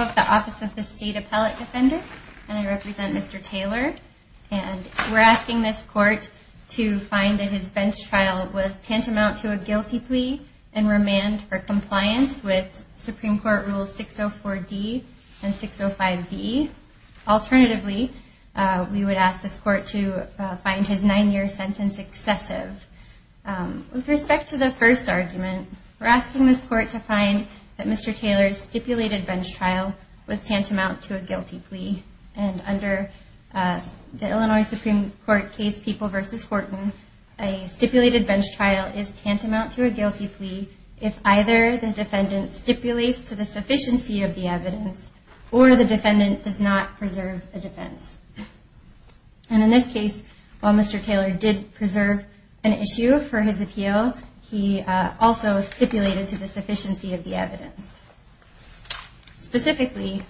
of the Office of the State Appellate Defender, and I represent Mr. Taylor. And we're asking this court to find that his bench trial was tantamount to a guilty plea and remand for compliance with Supreme Court Rules 604D and 605B. Alternatively, we would ask this court to find his nine-year sentence excessive. With respect to the first argument, we're asking this court to find that Mr. Taylor's stipulated bench trial was tantamount to a guilty plea if either the defendant stipulates to the sufficiency of the evidence or the defendant does not preserve a defense. And in this case, while Mr. Taylor did preserve an issue for his appeal, he also stipulated to the sufficiency of the evidence. Specifically,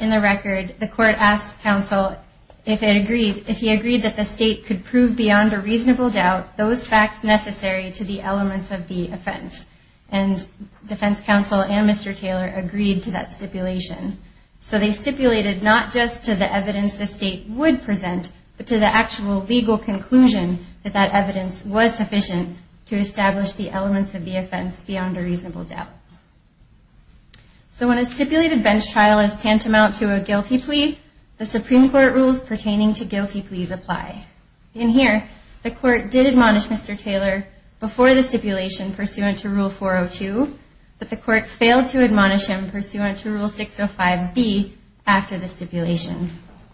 in the record, the court asked counsel if he agreed that the state could prove beyond a reasonable doubt those facts necessary to the elements of the offense. And defense counsel and Mr. Taylor agreed to that stipulation. So they stipulated not just to the evidence the state would present, but to the actual legal conclusion that that evidence was sufficient to establish the elements of the offense beyond a reasonable doubt. So when a stipulated bench trial is tantamount to a guilty plea, the Supreme Court Rules pertaining to guilty pleas apply. In here, the court did admonish Mr. Taylor before the stipulation pursuant to Rule 402, but the court failed to admonish him pursuant to Rule 605B after the stipulation.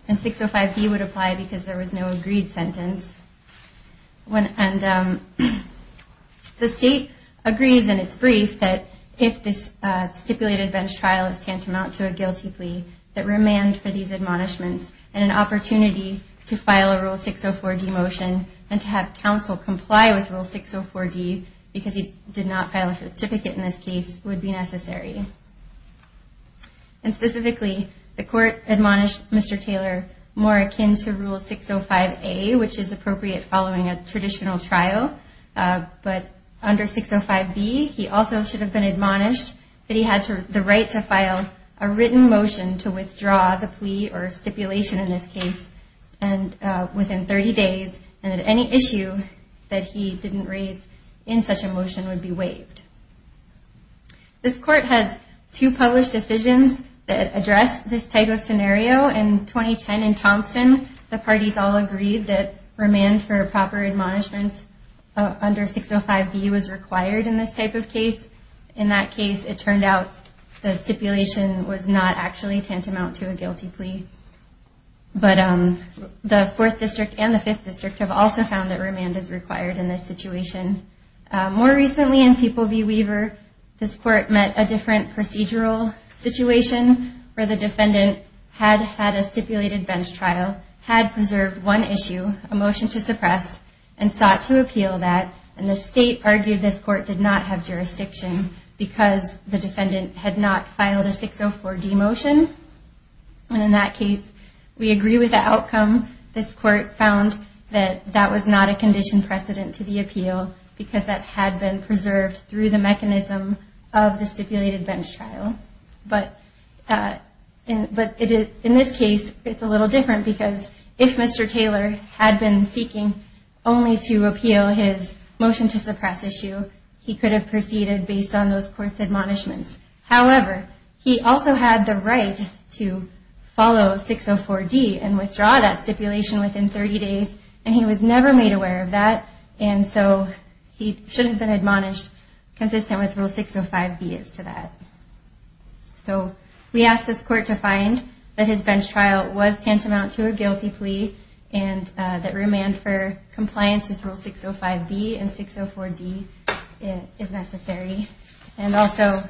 And 605B would apply because there was no agreed sentence. And the state agrees in its brief that if this guilty plea that remand for these admonishments and an opportunity to file a Rule 604D motion and to have counsel comply with Rule 604D because he did not file a certificate in this case would be necessary. And specifically, the court admonished Mr. Taylor more akin to Rule 605A, which is appropriate following a traditional trial. But under 605B, he also should have been motion to withdraw the plea or stipulation in this case within 30 days and that any issue that he didn't raise in such a motion would be waived. This court has two published decisions that address this type of scenario. In 2010 in Thompson, the parties all agreed that remand for proper admonishments under 605B was required in this type of case. In that case, it turned out the actually tantamount to a guilty plea. But the 4th District and the 5th District have also found that remand is required in this situation. More recently in People v. Weaver, this court met a different procedural situation where the defendant had had a stipulated bench trial, had preserved one issue, a motion to suppress, and sought to appeal that. And the state argued this court did not have jurisdiction because the defendant had not filed a 604D motion. And in that case, we agree with the outcome. This court found that that was not a condition precedent to the appeal because that had been preserved through the mechanism of the stipulated bench trial. But in this case, it's a little different because if Mr. Taylor had been seeking only to appeal his motion to have proceeded based on those courts admonishments. However, he also had the right to follow 604D and withdraw that stipulation within 30 days. And he was never made aware of that. And so he should have been admonished consistent with Rule 605B as to that. So we asked this court to find that his bench trial was tantamount to a guilty plea and that remand for compliance with Rule 605B and 604D is necessary. And also,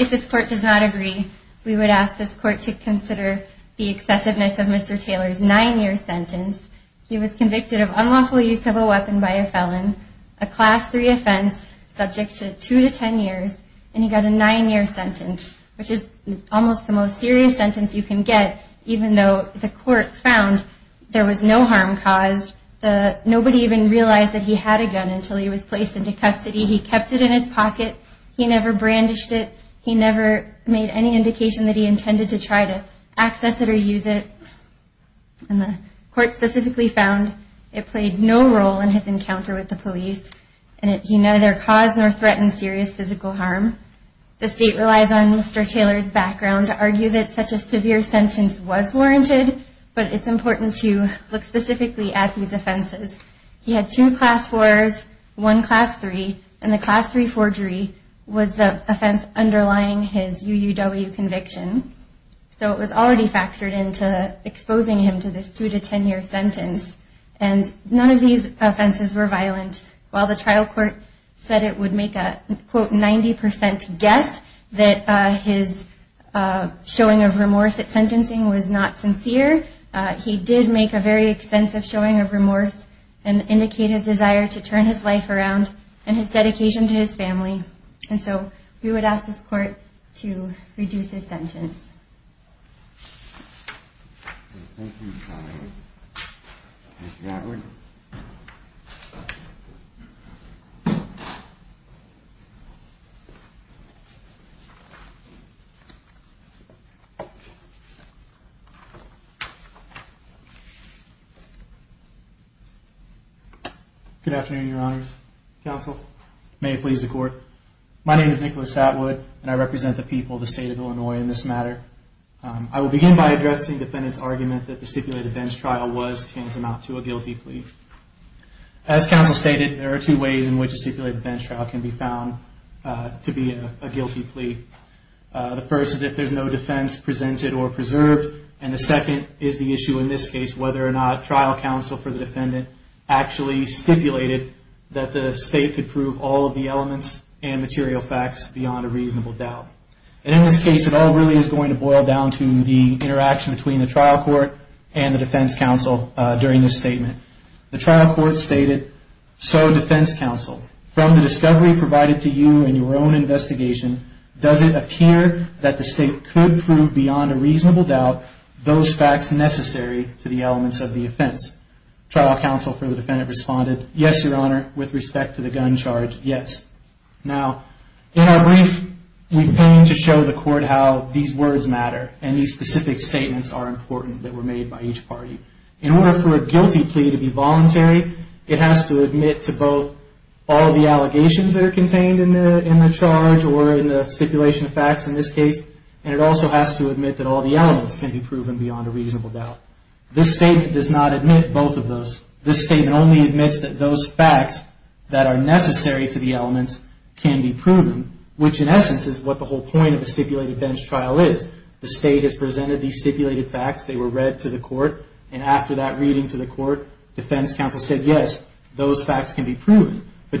if this court does not agree, we would ask this court to consider the excessiveness of Mr. Taylor's nine-year sentence. He was convicted of unlawful use of a weapon by a felon, a Class 3 offense subject to two to ten years, and he got a nine-year sentence, which is almost the most serious sentence you can get, even though the court found there was no harm caused. Nobody even realized that he had a gun until he was placed into custody. He kept it in his pocket. He never brandished it. He never made any indication that he intended to try to access it or use it. And the court specifically found it played no role in his encounter with the police. And he neither caused nor threatened serious physical harm. The state relies on Mr. Taylor's background to argue that such a severe sentence was warranted, but it's important to look specifically at these offenses. He had two Class 4s, one Class 3, and the Class 3 forgery was the offense underlying his UUW conviction. So it was already factored into exposing him to this two to ten year sentence. And none of these offenses were violent. While the trial court said it would make a, quote, sincere, he did make a very extensive showing of remorse and indicate his desire to turn his life around and his dedication to his family. And so we would ask this court to reduce his sentence. Good afternoon, Your Honors. Counsel, may it please the court. My name is Nicholas Atwood and I represent the people of the state of Illinois in this matter. I will begin by addressing defendant's argument that the stipulated bench trial was tantamount to a guilty plea. As counsel stated, there are two ways in which a stipulated bench trial can be found to be a guilty plea. The first is if there's no defense presented or preserved. And the second is the issue in this case, whether or not trial counsel for the defendant actually stipulated that the state could prove all of the elements and material facts beyond a reasonable doubt. And in this case, it all really is going to boil down to the interaction between the trial court and the defense counsel during this statement. The trial court stated, so defense counsel, from the discovery provided to you in your own investigation, does it appear that the state could prove beyond a reasonable doubt those facts necessary to the elements of the offense? Trial counsel for the defendant responded, yes, Your Honor, with respect to the gun charge, yes. Now, in our brief, we came to show the court how these words matter and these specific statements are important that were made by each party. In order for a guilty plea to be voluntary, it has to admit to both all the elements can be proven beyond a reasonable doubt. This statement does not admit both of those. This statement only admits that those facts that are necessary to the elements can be proven, which in essence is what the whole point of a stipulated bench trial is. The state has presented these stipulated facts. They were read to the court. And after that reading to the court, defense counsel said, yes, those facts can be proven. The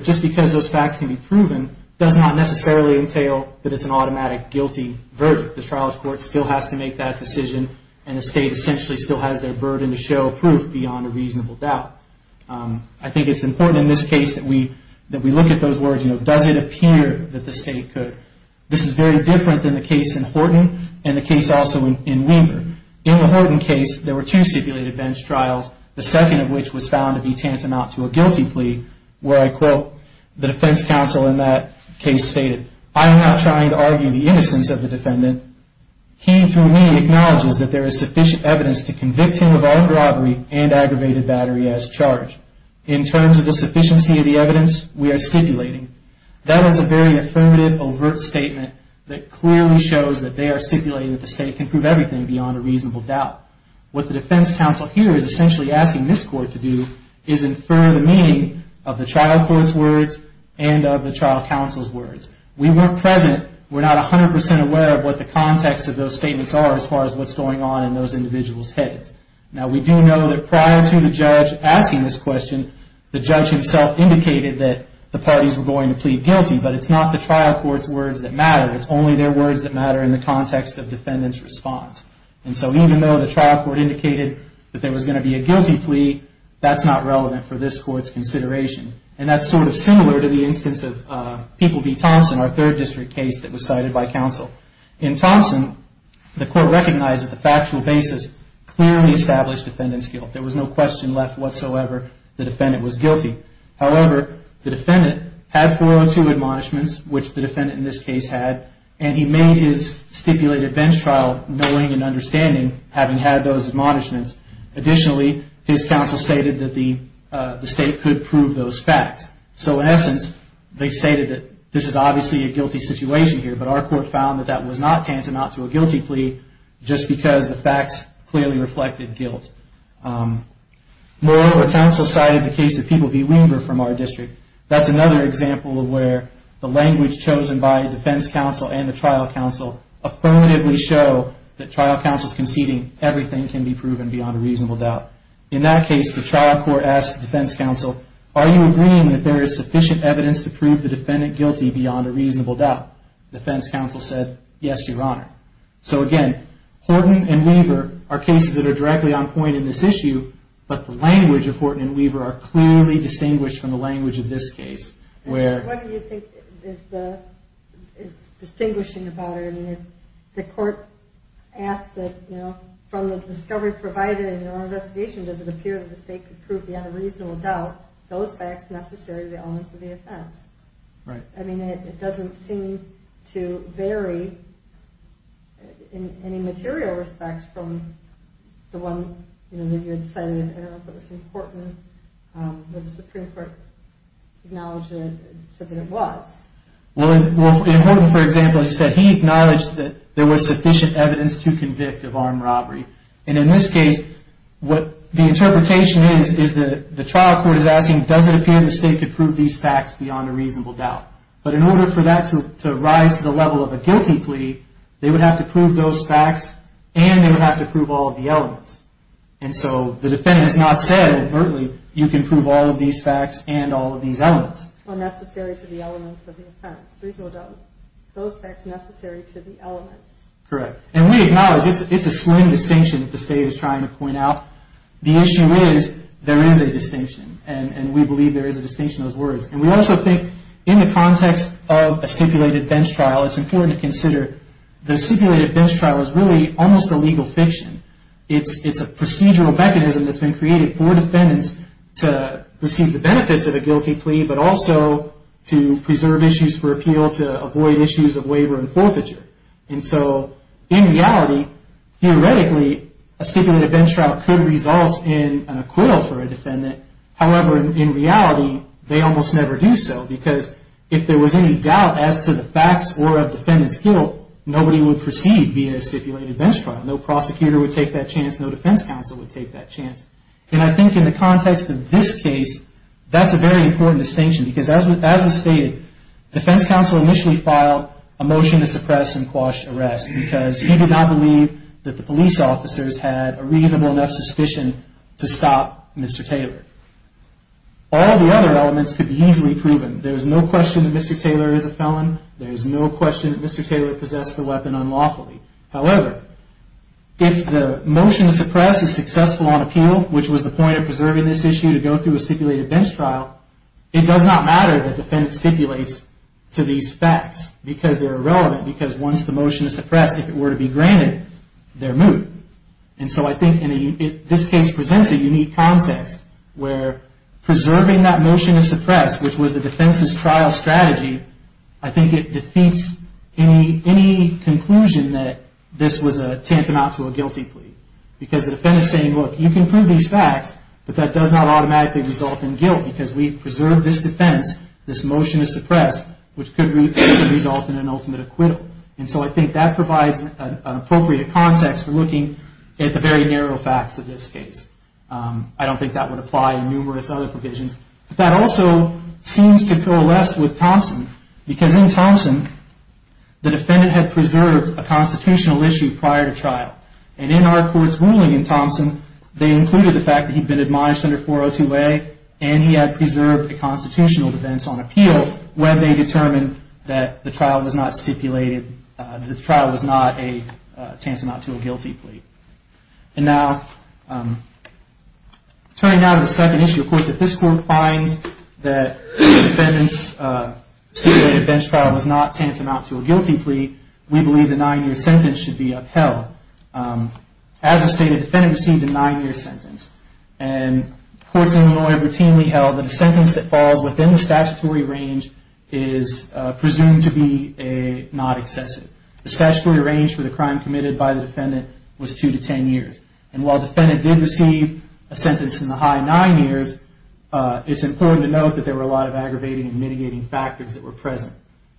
trial court still has to make that decision and the state essentially still has their burden to show proof beyond a reasonable doubt. I think it's important in this case that we look at those words, does it appear that the state could. This is very different than the case in Horton and the case also in Weaver. In the Horton case, there were two stipulated bench trials, the second of which was found to be tantamount to a guilty plea. He, through me, acknowledges that there is sufficient evidence to convict him of armed robbery and aggravated battery as charged. In terms of the sufficiency of the evidence, we are stipulating. That is a very affirmative, overt statement that clearly shows that they are stipulating that the state can prove everything beyond a reasonable doubt. What the defense counsel here is essentially asking this court to do is infer the meaning of the trial counsel's words. We weren't present. We're not 100% aware of what the context of those statements are as far as what's going on in those individuals' heads. Now, we do know that prior to the judge asking this question, the judge himself indicated that the parties were going to plead guilty. But it's not the trial court's words that matter. It's only their words that matter in the context of defendant's response. And so even though the trial court indicated that there was going to be a guilty plea, that's not relevant for this court's consideration. And that's sort of similar to the instance of People v. Thompson, our third district case that was cited by counsel. In Thompson, the court recognized that the factual basis clearly established defendant's guilt. There was no question left whatsoever the defendant was guilty. However, the defendant had 402 admonishments, which the defendant in this case had, and he made his stipulated bench trial knowing and understanding, having had those admonishments. Additionally, his counsel stated that the state could prove those facts. So in essence, they stated that this is obviously a guilty situation here, but our court found that that was not tantamount to a guilty plea just because the facts clearly reflected guilt. Moreover, counsel cited the case of People v. Weaver from our district. That's another example of where the language chosen by defense counsel and the trial counsel affirmatively show that trial counsel's doubt. In that case, the trial court asked the defense counsel, are you agreeing that there is sufficient evidence to prove the defendant guilty beyond a reasonable doubt? The defense counsel said, yes, your honor. So again, Horton and Weaver are cases that are directly on point in this issue, but the language of Horton and Weaver are clearly distinguished from the language of this case, where... provided in your own investigation, does it appear that the state could prove beyond a reasonable doubt those facts necessary to the elements of the offense? I mean, it doesn't seem to vary in any material respect from the one, you know, that you had cited, I don't know if it was important, but the Supreme Court acknowledged it and said that it was. Well, in Horton, for example, he said he acknowledged that there was sufficient evidence to convict of armed robbery. And in this case, what the interpretation is, is that the trial court is asking, does it appear the state could prove these facts beyond a reasonable doubt? But in order for that to rise to the level of a guilty plea, they would have to prove those facts and they would have to prove all of the elements. And so the defendant has not said, overtly, you can prove all of these facts and all of these elements. Unnecessary to the elements of the offense. Reasonable doubt. Those facts necessary to the elements. Correct. And we acknowledge it's a slim distinction that the state is trying to point out. The issue is, there is a distinction. And we believe there is a distinction in those words. And we also think, in the context of a stipulated bench trial, it's important to consider the stipulated bench trial is really almost a legal fiction. It's a procedural mechanism that's been created for defendants to receive the benefits of a guilty plea, but also to preserve issues for appeal, to avoid issues of waiver and forfeiture. And so, in reality, theoretically, a stipulated bench trial could result in an acquittal for a defendant. However, in reality, they almost never do so. Because if there was any doubt as to the facts or of defendant's guilt, nobody would receive via a stipulated bench trial. No prosecutor would take that chance. No defense counsel would take that chance. And I think in the context of this case, that's a very important distinction. Because as was stated, defense counsel initially filed a motion to suppress and quash arrest because he did not believe that the police officers had a reasonable enough suspicion to stop Mr. Taylor. All the other elements could be easily proven. There's no question that Mr. Taylor is a felon. There's no question that Mr. Taylor possessed the weapon unlawfully. However, if the motion to suppress is successful on appeal, which was the point of preserving this issue to go through a stipulated bench trial, it does not matter that the defendant stipulates to these facts. Because they're irrelevant. Because once the motion is suppressed, if it were to be granted, they're moot. And so I think this case presents a unique context where preserving that motion to suppress, which was the defense's trial strategy, I think it defeats any conclusion that this was a tantamount to a guilty plea. Because the defendant is saying, look, you can prove these facts, but that does not automatically result in guilt. Because we preserved this defense, this motion is suppressed, which could result in an ultimate acquittal. And so I think that provides an appropriate context for looking at the very narrow facts of this case. I don't think that would apply in numerous other provisions. But that also seems to coalesce with Thompson. Because in Thompson, the defendant had preserved a constitutional issue prior to trial. And in our court's ruling in Thompson, they included the fact that he'd been admonished under 402A, and he had preserved a constitutional defense on that the trial was not a tantamount to a guilty plea. And now, turning now to the second issue, of course, if this court finds that the defendant's stipulated bench trial was not tantamount to a guilty plea, we believe the nine-year sentence should be upheld. As we stated, the defendant received a nine-year sentence. And courts in Illinois routinely held that a sentence that falls within the statutory range is presumed to be not excessive. The statutory range for the crime committed by the defendant was two to ten years. And while the defendant did receive a sentence in the high nine years, it's important to note that there were a lot of aggravating and mitigating factors that were present.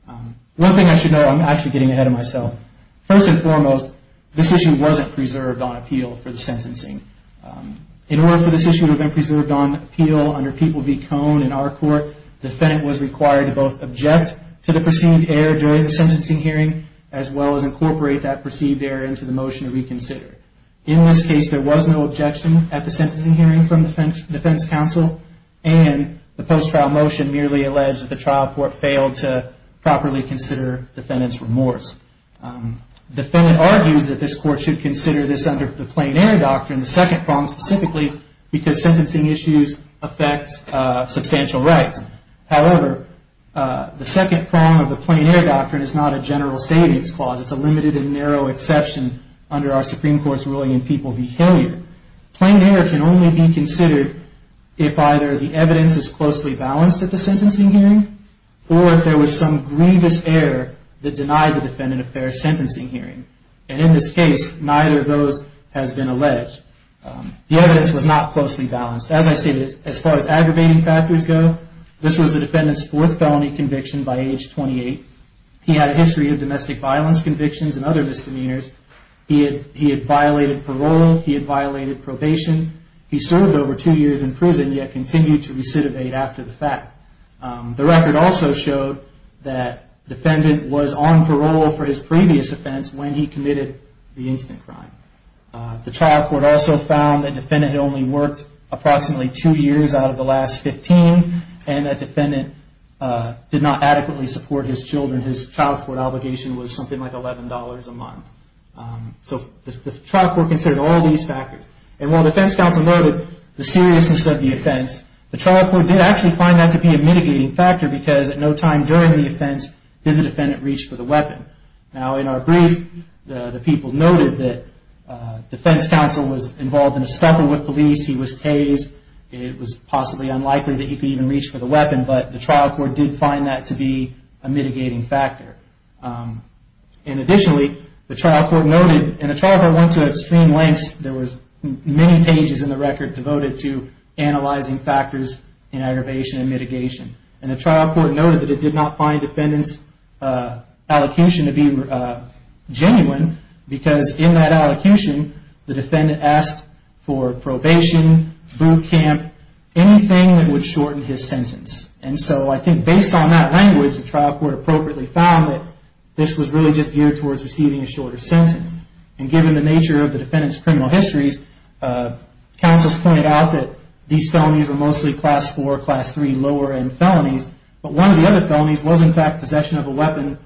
One thing I should note, I'm actually getting ahead of myself. First and foremost, this issue wasn't preserved on appeal for the sentencing. In order for this issue to have been preserved on appeal under People v. Cohn in our court, the defendant was required to both object to the perceived error during the sentencing hearing, as well as incorporate that perceived error into the motion to reconsider. In this case, there was no objection at the sentencing hearing from the defense counsel, and the post-trial motion merely alleged that the trial court failed to properly consider the defendant's remorse. The defendant argues that this court should consider this under the plain error doctrine, the second prong specifically, because sentencing issues affect substantial rights. However, the second prong of the plain error doctrine is not a general savings clause. It's a limited and narrow exception under our Supreme Court's ruling in People v. Himmler. Plain error can only be considered if either the evidence is closely balanced at the sentencing hearing, or if there was some grievous error that denied the defendant a fair sentencing hearing. And in this case, neither of those has been alleged. The evidence was not closely balanced. As I stated, as far as aggravating factors go, this was the defendant's fourth felony conviction by age 28. He had a history of domestic violence convictions and other crimes, and he continued to recidivate after the fact. The record also showed that the defendant was on parole for his previous offense when he committed the instant crime. The trial court also found that the defendant had only worked approximately two years out of the last 15, and that the defendant did not adequately support his children. His child support obligation was something like $11 a month. So the trial court considered all these factors. And while the defense counsel noted the seriousness of the offense, the trial court did actually find that to be a mitigating factor because at no time during the offense did the defendant reach for the weapon. Now, in our brief, the people noted that the defense counsel was involved in a scuffle with police. He was tased. It was possibly unlikely that he could even reach for the weapon, but the trial court did find that to be a mitigating factor. And additionally, the trial court noted, and the trial court went to extreme lengths. There were many pages in the record devoted to analyzing factors in aggravation and mitigation. And the trial court noted that it did not find the defendant's allocution to be genuine because in that allocution, the defendant asked for probation, boot camp, anything that would shorten his sentence. And based on that language, the trial court appropriately found that this was really just geared towards receiving a shorter sentence. And given the nature of the defendant's criminal histories, counsels pointed out that these felonies were mostly class four, class three, lower end felonies. But one of the other felonies was in fact possession of a weapon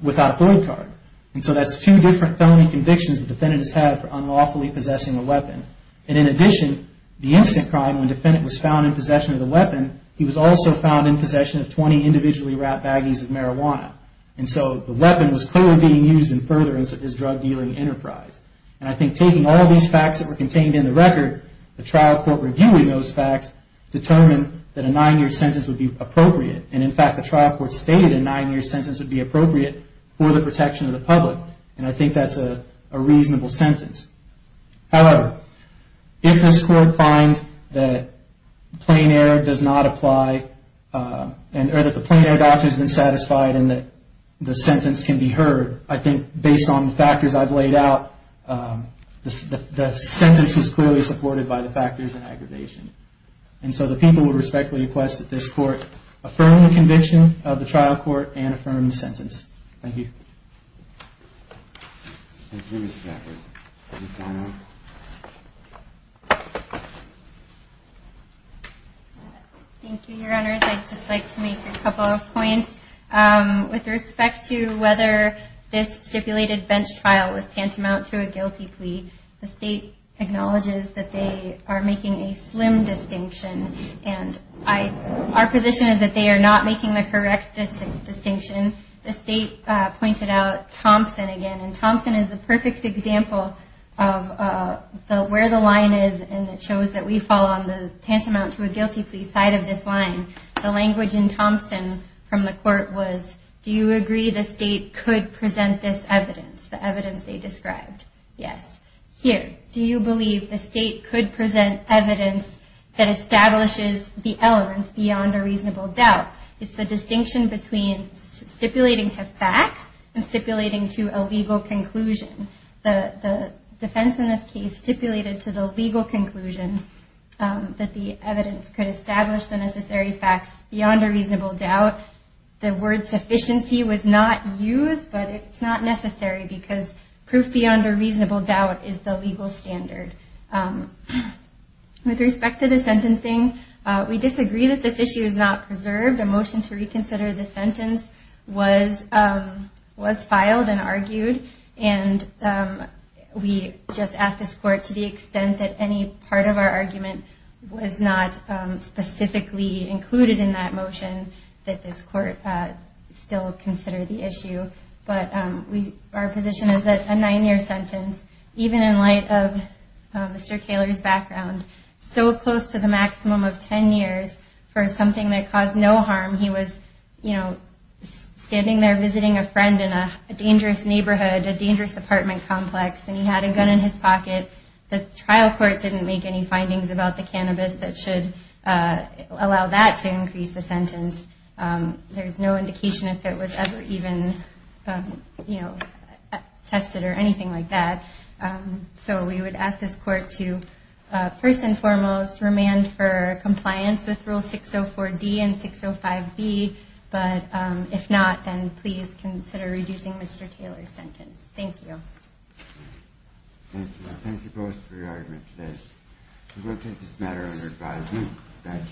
without a fluid card. And so that's two different felony convictions the defendant has had for unlawfully possessing a weapon. And in addition, the instant crime when the defendant was found in possession of the possession of 20 individually wrapped baggies of marijuana. And so the weapon was clearly being used in furtherance of his drug dealing enterprise. And I think taking all these facts that were contained in the record, the trial court reviewing those facts determined that a nine year sentence would be appropriate. And in fact, the trial court stated a nine year sentence would be appropriate for the protection of the public. And I know that the plain air doctor has been satisfied and that the sentence can be heard. I think based on the factors I've laid out, the sentence is clearly supported by the factors and aggravation. And so the people would respectfully request that this court affirm the conviction of the trial court and affirm the sentence. Thank you. Thank you, Your Honor. I'd just like to make a couple of points with respect to whether this stipulated bench trial was tantamount to a guilty plea. The state acknowledges that they are making a slim distinction. And I our position is that they are not making the correct distinction. The state pointed out Thompson again. And Thompson is a perfect example of where the line is. And it shows that we fall on the tantamount to a guilty plea side of this line. The language in Thompson from the court was, do you agree the state could present this evidence, the evidence they described? Yes. Here, do you believe the state could present evidence that establishes the elements beyond a reasonable doubt? It's the distinction between stipulating some facts and stipulating to a legal conclusion. The defense in this case stipulated to the legal conclusion that the evidence could establish the necessary facts beyond a reasonable doubt. The word sufficiency was not used, but it's not necessary because proof beyond a reasonable doubt is the legal standard. With respect to the sentencing, we disagree that this issue is not preserved. A motion to reconsider the sentence was, was passed. And the motion to reconsider was filed and argued. And we just ask this court to the extent that any part of our argument was not specifically included in that motion, that this court still consider the issue. But we, our position is that a nine year sentence, even in light of Mr. Taylor's background, so close to the maximum of 10 years, for something that caused no harm, he was, you know, standing there visiting a friend in a dangerous neighborhood, a dangerous apartment complex, and he had a gun in his pocket. The trial court didn't make any findings about the cannabis that should allow that to increase the sentence. There's no indication if it was ever even, you know, tested or anything like that. So we would ask this court to, first and foremost, remand for compliance with the rule 604D and 605B. But if not, then please consider reducing Mr. Taylor's sentence. Thank you. Thank you. I thank you both for your argument today. We will take this matter under advisement. Thank you.